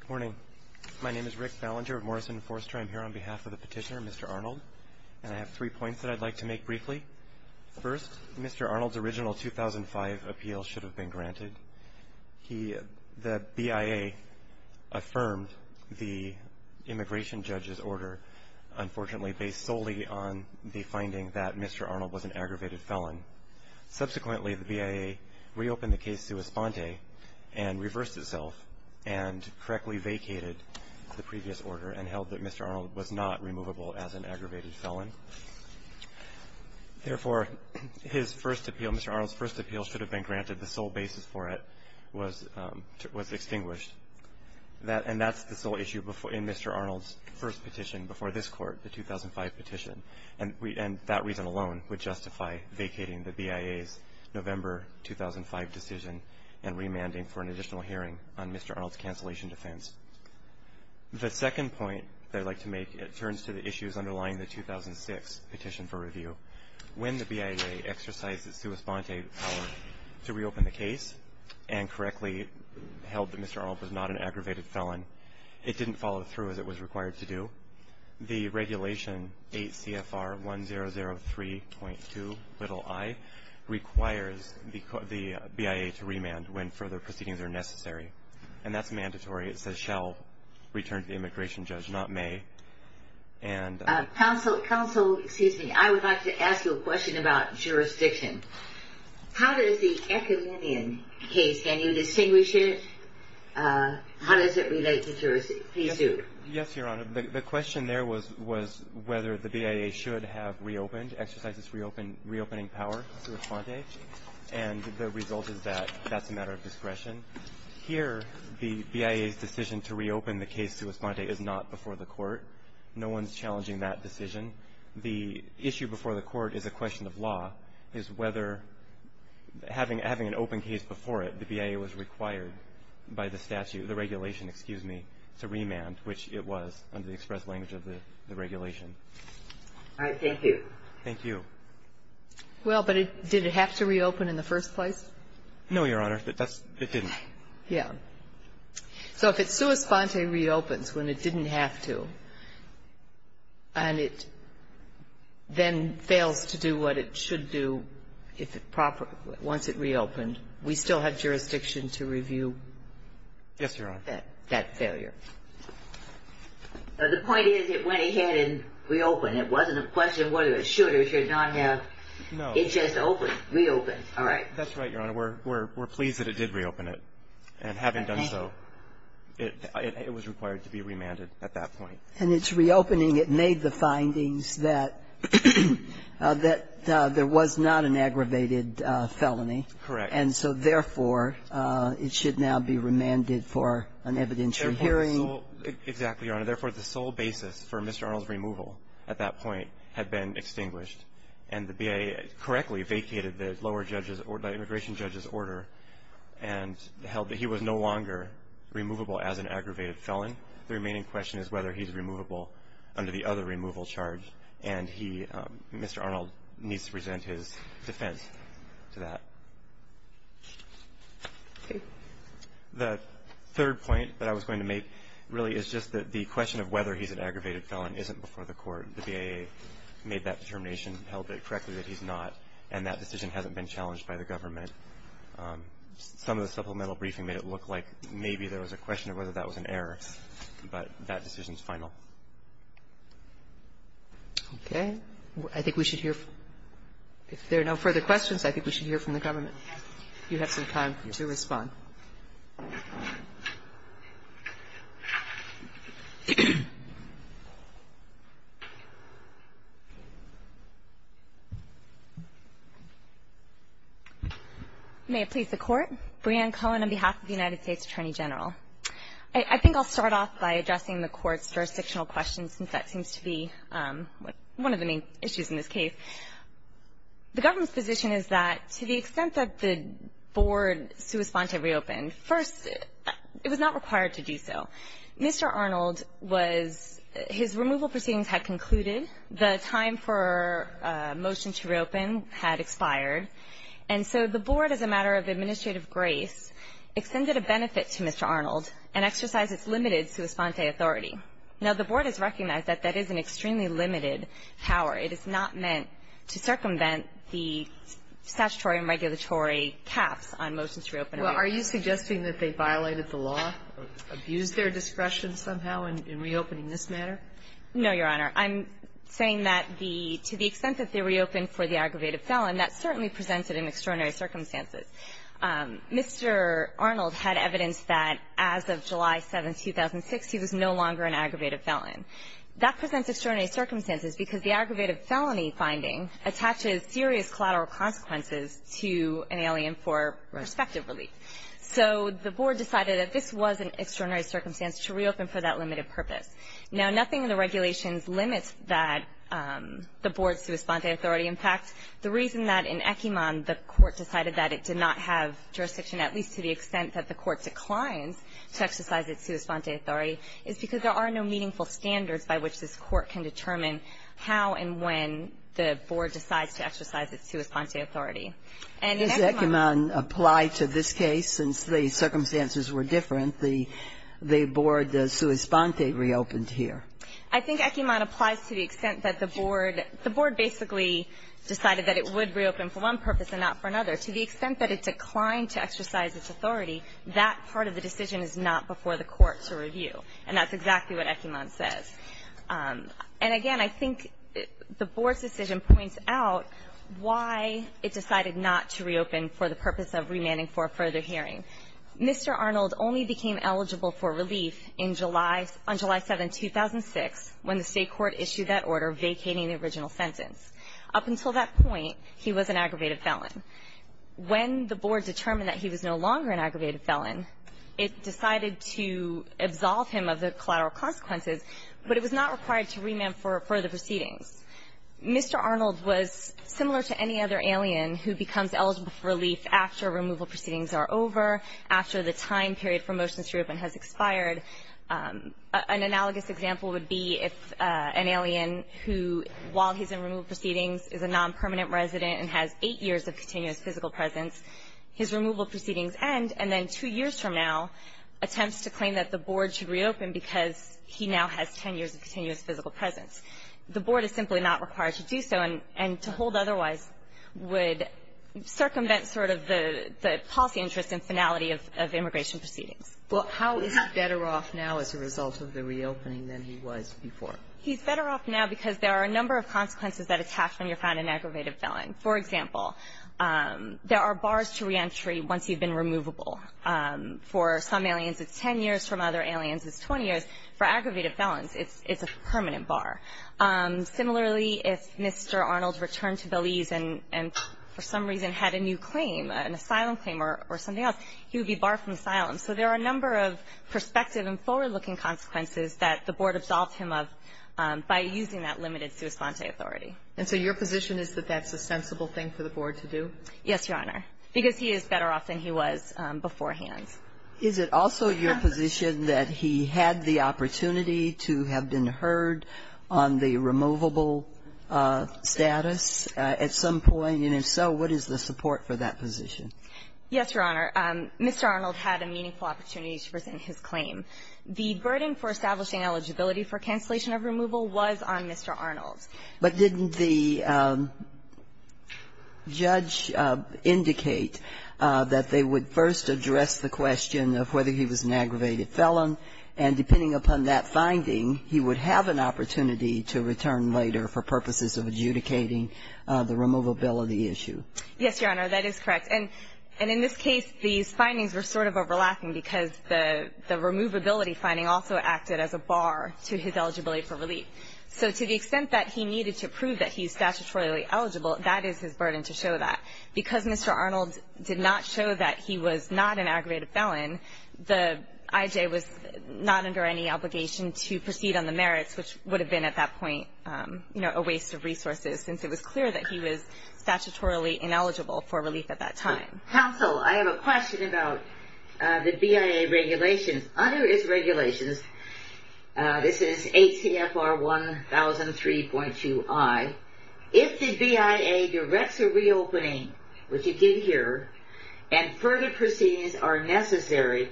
Good morning. My name is Rick Ballinger of Morrison & Foerster. I'm here on behalf of the petitioner, Mr. Arnold, and I have three points that I'd like to make briefly. First, Mr. Arnold's original 2005 appeal should have been granted. The BIA affirmed the immigration judge's order, unfortunately, based solely on the finding that Mr. Arnold was an aggravated felon. Subsequently, the BIA reopened the case sua sponte and reversed itself and correctly vacated the previous order and held that Mr. Arnold was not removable as an aggravated felon. Therefore, his first appeal, Mr. Arnold's first appeal should have been granted. The sole basis for it was extinguished. And that's the sole issue in Mr. Arnold's first petition before this Court, the 2005 petition. And that reason alone would justify vacating the BIA's November 2005 decision and remanding for an additional hearing on Mr. Arnold's cancellation defense. The second point that I'd like to make, it turns to the issues underlying the 2006 petition for review. When the BIA exercised its sua sponte power to reopen the case and correctly held that Mr. Arnold was not an aggravated felon, it didn't follow through as it was required to do. The regulation 8 CFR 1003.2 little i requires the BIA to remand when further proceedings are necessary. And that's mandatory. It says shall return to the immigration judge, not may. And counsel, counsel, excuse me, I would like to ask you a question about jurisdiction. How does the Ecolinian case, can you distinguish it? How does it relate to jurisdiction? Yes, Your Honor. The question there was whether the BIA should have reopened, exercised its reopening power sua sponte, and the result is that that's a matter of discretion. Here, the BIA's decision to reopen the case sua sponte is not before the Court. No one's challenging that decision. The issue before the Court is a question of law, is whether having an open case before it, the BIA was required by the statute, the regulation, excuse me, to remand, which it was under the express language of the regulation. All right. Thank you. Thank you. Well, but did it have to reopen in the first place? No, Your Honor. It didn't. Yeah. So if it sua sponte reopens when it didn't have to, and it then fails to do what it should do if it properly, once it reopened, we still have jurisdiction to review that failure. Yes, Your Honor. The point is it went ahead and reopened. It wasn't a question of whether it should or should not have. No. It just opened, reopened. All right. That's right, Your Honor. We're pleased that it did reopen it. And having done so, it was required to be remanded at that point. And its reopening, it made the findings that there was not an aggravated felony. Correct. And so, therefore, it should now be remanded for an evidentiary hearing. Exactly, Your Honor. Therefore, the sole basis for Mr. Arnold's removal at that point had been extinguished. And the BIA correctly vacated the lower judge's or the immigration judge's order and held that he was no longer removable as an aggravated felon. The remaining question is whether he's removable under the other removal charge. And he, Mr. Arnold, needs to present his defense to that. Okay. The third point that I was going to make really is just that the question of whether he's an aggravated felon isn't before the court. The BIA made that determination, held it correctly that he's not, and that decision hasn't been challenged by the government. Some of the supplemental briefing made it look like maybe there was a question of whether that was an error, but that decision is final. Okay. I think we should hear from the government. You have some time to respond. May it please the Court. Breanne Cohen on behalf of the United States Attorney General. I think I'll start off by addressing the Court's jurisdictional questions, since that seems to be one of the main issues in this case. The government's position is that to the extent that the board sui sponte reopened, first, it was not required to do so. Mr. Arnold was his removal proceedings had concluded. The time for a motion to reopen had expired. And so the board, as a matter of administrative grace, extended a benefit to Mr. Arnold and exercised its limited sui sponte authority. Now, the board has recognized that that is an extremely limited power. It is not meant to circumvent the statutory and regulatory caps on motions to reopen a case. Well, are you suggesting that they violated the law, abused their discretion somehow in reopening this matter? No, Your Honor. I'm saying that the to the extent that they reopened for the aggravated felon, that certainly presents it in extraordinary circumstances. Mr. Arnold had evidence that as of July 7, 2006, he was no longer an aggravated felon. That presents extraordinary circumstances because the aggravated felony finding attaches serious collateral consequences to an alien for prospective relief. So the board decided that this was an extraordinary circumstance to reopen for that limited purpose. Now, nothing in the regulations limits that the board sui sponte authority impact. The reason that in Ekiman the court decided that it did not have jurisdiction at least to the extent that the court declined to exercise its sui sponte authority is because there are no meaningful standards by which this court can determine how and when the board decides to exercise its sui sponte authority. And in Ekiman ---- Does Ekiman apply to this case? Since the circumstances were different, the board sui sponte reopened here. I think Ekiman applies to the extent that the board ---- the board basically decided that it would reopen for one purpose and not for another. To the extent that it declined to exercise its authority, that part of the decision is not before the court to review. And that's exactly what Ekiman says. And again, I think the board's decision points out why it decided not to reopen for the purpose of remanding for a further hearing. Mr. Arnold only became eligible for relief in July ---- on July 7, 2006, when the State court issued that order vacating the original sentence. Up until that point, he was an aggravated felon. When the board determined that he was no longer an aggravated felon, it decided to absolve him of the collateral consequences, but it was not required to remand for further proceedings. Mr. Arnold was similar to any other alien who becomes eligible for relief after removal proceedings are over, after the time period for motions to reopen has expired. An analogous example would be if an alien who, while he's in removal proceedings, is a nonpermanent resident and has eight years of continuous physical presence. His removal proceedings end, and then two years from now, attempts to claim that the board should reopen because he now has 10 years of continuous physical presence. The board is simply not required to do so, and to hold otherwise would circumvent sort of the policy interest and finality of immigration proceedings. Well, how is he better off now as a result of the reopening than he was before? He's better off now because there are a number of consequences that attach when you find an aggravated felon. For example, there are bars to reentry once you've been removable. For some aliens, it's 10 years. For other aliens, it's 20 years. For aggravated felons, it's a permanent bar. Similarly, if Mr. Arnold returned to Belize and for some reason had a new claim, an asylum claim or something else, he would be barred from asylum. So there are a number of prospective and forward-looking consequences that the board absolved him of by using that limited sua sante authority. And so your position is that that's a sensible thing for the board to do? Yes, Your Honor. Because he is better off than he was beforehand. Is it also your position that he had the opportunity to have been heard on the removable status at some point? And if so, what is the support for that position? Yes, Your Honor. Mr. Arnold had a meaningful opportunity to present his claim. The burden for establishing eligibility for cancellation of removal was on Mr. Arnold. But didn't the judge indicate that they would first address the question of whether he was an aggravated felon, and depending upon that finding, he would have an opportunity to return later for purposes of adjudicating the removability issue? Yes, Your Honor. That is correct. And in this case, these findings were sort of overlapping because the removability finding also acted as a bar to his eligibility for relief. So to the extent that he needed to prove that he is statutorily eligible, that is his burden to show that. Because Mr. Arnold did not show that he was not an aggravated felon, the IJ was not under any obligation to proceed on the merits, which would have been at that point, you know, a waste of resources since it was clear that he was statutorily ineligible for relief at that time. Counsel, I have a question about the BIA regulations. Under its regulations, this is ATFR 1003.2i, if the BIA directs a reopening, which it did here, and further proceedings are necessary,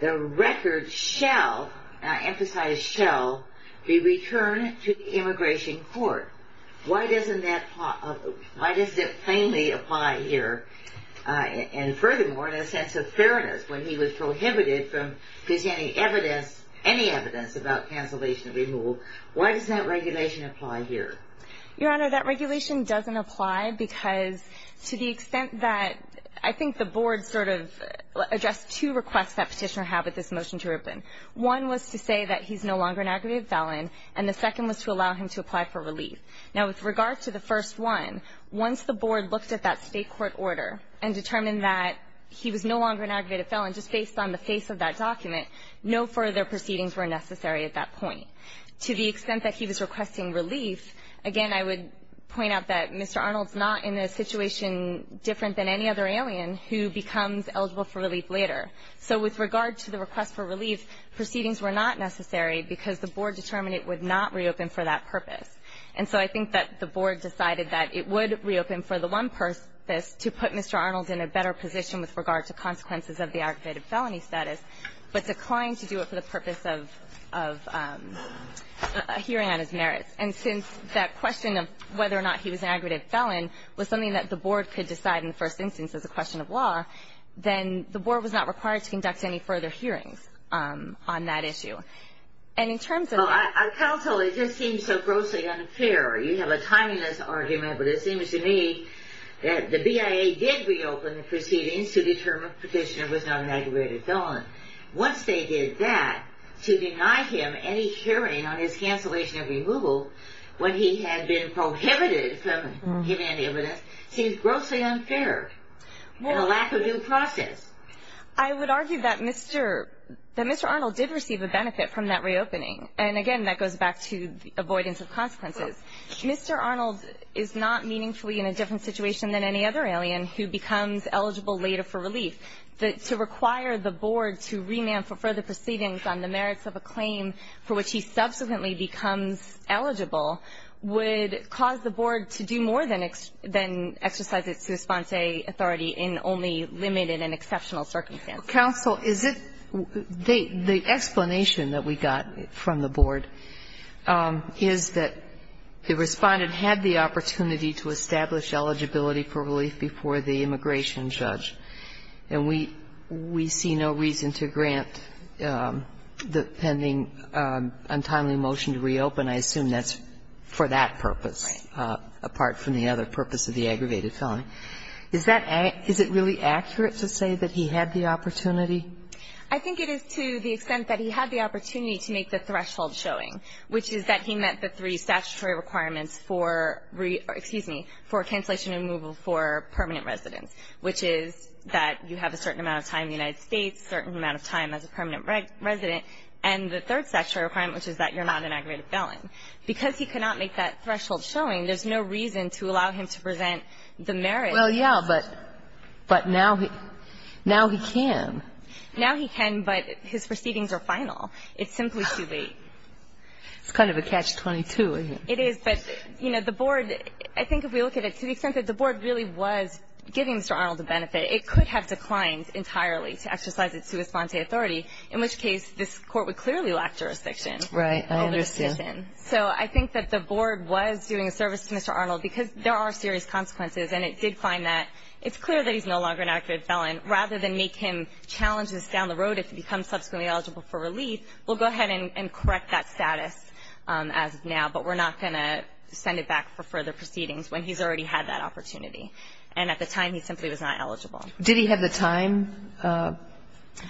the record shall, and I emphasize shall, be returned to the Immigration Court. Why doesn't that plainly apply here? And furthermore, in a sense of fairness, when he was prohibited from presenting any evidence about cancellation of removal, why doesn't that regulation apply here? Your Honor, that regulation doesn't apply because to the extent that I think the Board sort of addressed two requests that Petitioner had with this motion to reopen. One was to say that he's no longer an aggravated felon, and the second was to allow him to apply for relief. Now, with regard to the first one, once the Board looked at that State court order and determined that he was no longer an aggravated felon, just based on the face of that document, no further proceedings were necessary at that point. To the extent that he was requesting relief, again, I would point out that Mr. Arnold's not in a situation different than any other alien who becomes eligible for relief later. So with regard to the request for relief, proceedings were not necessary because the Board determined it would not reopen for that purpose. And so I think that the Board decided that it would reopen for the one purpose to put Mr. Arnold in a better position with regard to consequences of the aggravated felony status, but declined to do it for the purpose of hearing on his merits. And since that question of whether or not he was an aggravated felon was something that the Board could decide in the first instance as a question of law, then the Board was not required to conduct any further hearings on that issue. Well, counsel, it just seems so grossly unfair. You have a timeliness argument, but it seems to me that the BIA did reopen the proceedings to determine Petitioner was not an aggravated felon. Once they did that, to deny him any hearing on his cancellation of removal when he had been prohibited from giving any evidence seems grossly unfair and a lack of due process. I would argue that Mr. Arnold did receive a benefit from that reopening. And again, that goes back to avoidance of consequences. Mr. Arnold is not meaningfully in a different situation than any other alien who becomes eligible later for relief. To require the Board to remand for further proceedings on the merits of a claim for which he subsequently becomes eligible would cause the Board to do more than exercise its responsee authority in only limited and exceptional circumstances. Counsel, is it the explanation that we got from the Board is that the Respondent had the opportunity to establish eligibility for relief before the immigration judge, and we see no reason to grant the pending, untimely motion to reopen. I assume that's for that purpose. Right. But I assume that the Board is not, apart from the other purpose of the aggravated felon, is that an – is it really accurate to say that he had the opportunity? I think it is to the extent that he had the opportunity to make the threshold showing, which is that he met the three statutory requirements for – excuse me – for cancellation and removal for permanent residence, which is that you have a certain amount of time in the United States, a certain amount of time as a permanent resident. And the third statutory requirement, which is that you're not an aggravated felon. Because he could not make that threshold showing, there's no reason to allow him to present the merits. Well, yeah, but – but now he – now he can. Now he can, but his proceedings are final. It's simply too late. It's kind of a catch-22, isn't it? It is, but, you know, the Board – I think if we look at it to the extent that the Board really was giving Mr. Arnold the benefit, it could have declined entirely to exercise its sua sponte authority, in which case this Court would clearly lack jurisdiction. Right. I understand. So I think that the Board was doing a service to Mr. Arnold because there are serious consequences, and it did find that it's clear that he's no longer an aggravated felon. Rather than make him challenge this down the road if he becomes subsequently eligible for relief, we'll go ahead and correct that status as of now, but we're not going to send it back for further proceedings when he's already had that opportunity. And at the time, he simply was not eligible. Did he have the time requirements?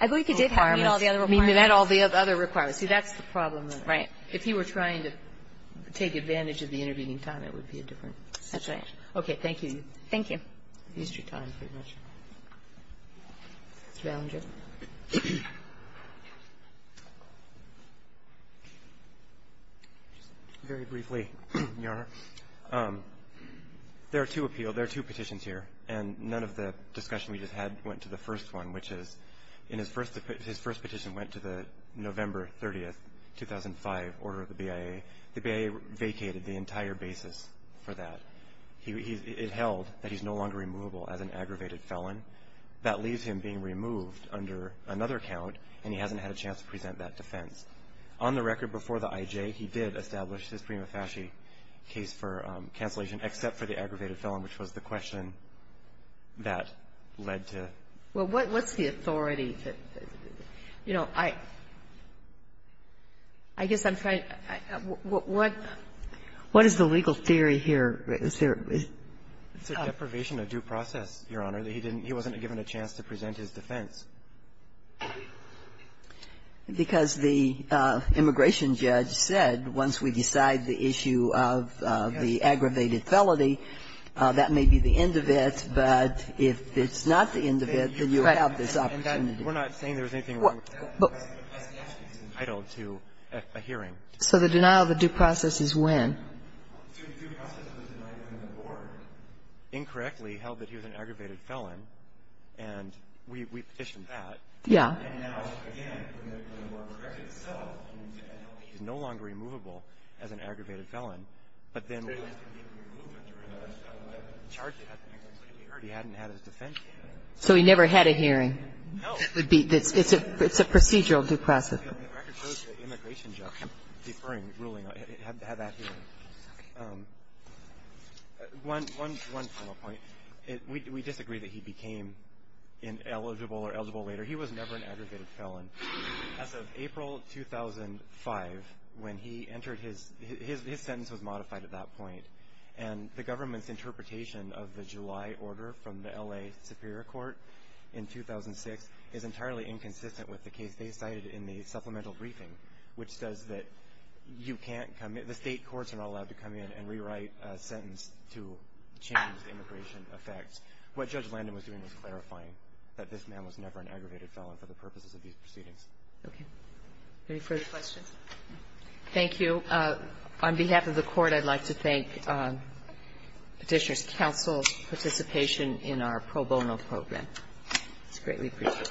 I believe he did have all the other requirements. He met all the other requirements. See, that's the problem, though. Right. If he were trying to take advantage of the intervening time, it would be a different situation. That's right. Okay. Thank you. Thank you. You've used your time pretty much. Mr. Ballinger. Very briefly, Your Honor. There are two petitions here, and none of the discussion we just had went to the first one, which is his first petition went to the November 30, 2005, order of the BIA. The BIA vacated the entire basis for that. It held that he's no longer removable as an aggravated felon. That leaves him being removed under another count, and he hasn't had a chance to present that defense. On the record, before the IJ, he did establish his prima facie case for cancellation, except for the aggravated felon, which was the question that led to. Well, what's the authority? You know, I guess I'm trying to – what is the legal theory here? Is there – It's a deprivation of due process, Your Honor. He wasn't given a chance to present his defense. Because the immigration judge said, once we decide the issue of the aggravated felony, that may be the end of it, but if it's not the end of it, then you have this opportunity. Right. And we're not saying there's anything wrong with that. But yes, he's entitled to a hearing. So the denial of the due process is when? The due process was denied when the board incorrectly held that he was an aggravated felon. And we petitioned that. Yeah. And now, again, the record itself means that he's no longer removable as an aggravated felon. But then we have to give him a removal to remove that felon. I haven't charged him. I haven't heard. He hadn't had his defense. So he never had a hearing. No. It's a procedural due process. The record shows the immigration judge deferring ruling. He had that hearing. One final point. We disagree that he became ineligible or eligible later. He was never an aggravated felon. As of April 2005, when he entered his sentence was modified at that point. And the government's interpretation of the July order from the L.A. Superior Court in 2006 is entirely inconsistent with the case they cited in the supplemental briefing, which says that you can't come in, the state courts are not allowed to come in and rewrite a sentence to change the immigration effects. What Judge Landon was doing was clarifying that this man was never an aggravated felon for the purposes of these proceedings. Okay. Any further questions? Thank you. On behalf of the court, I'd like to thank the district counsel's participation in our pro bono program. It's greatly appreciated.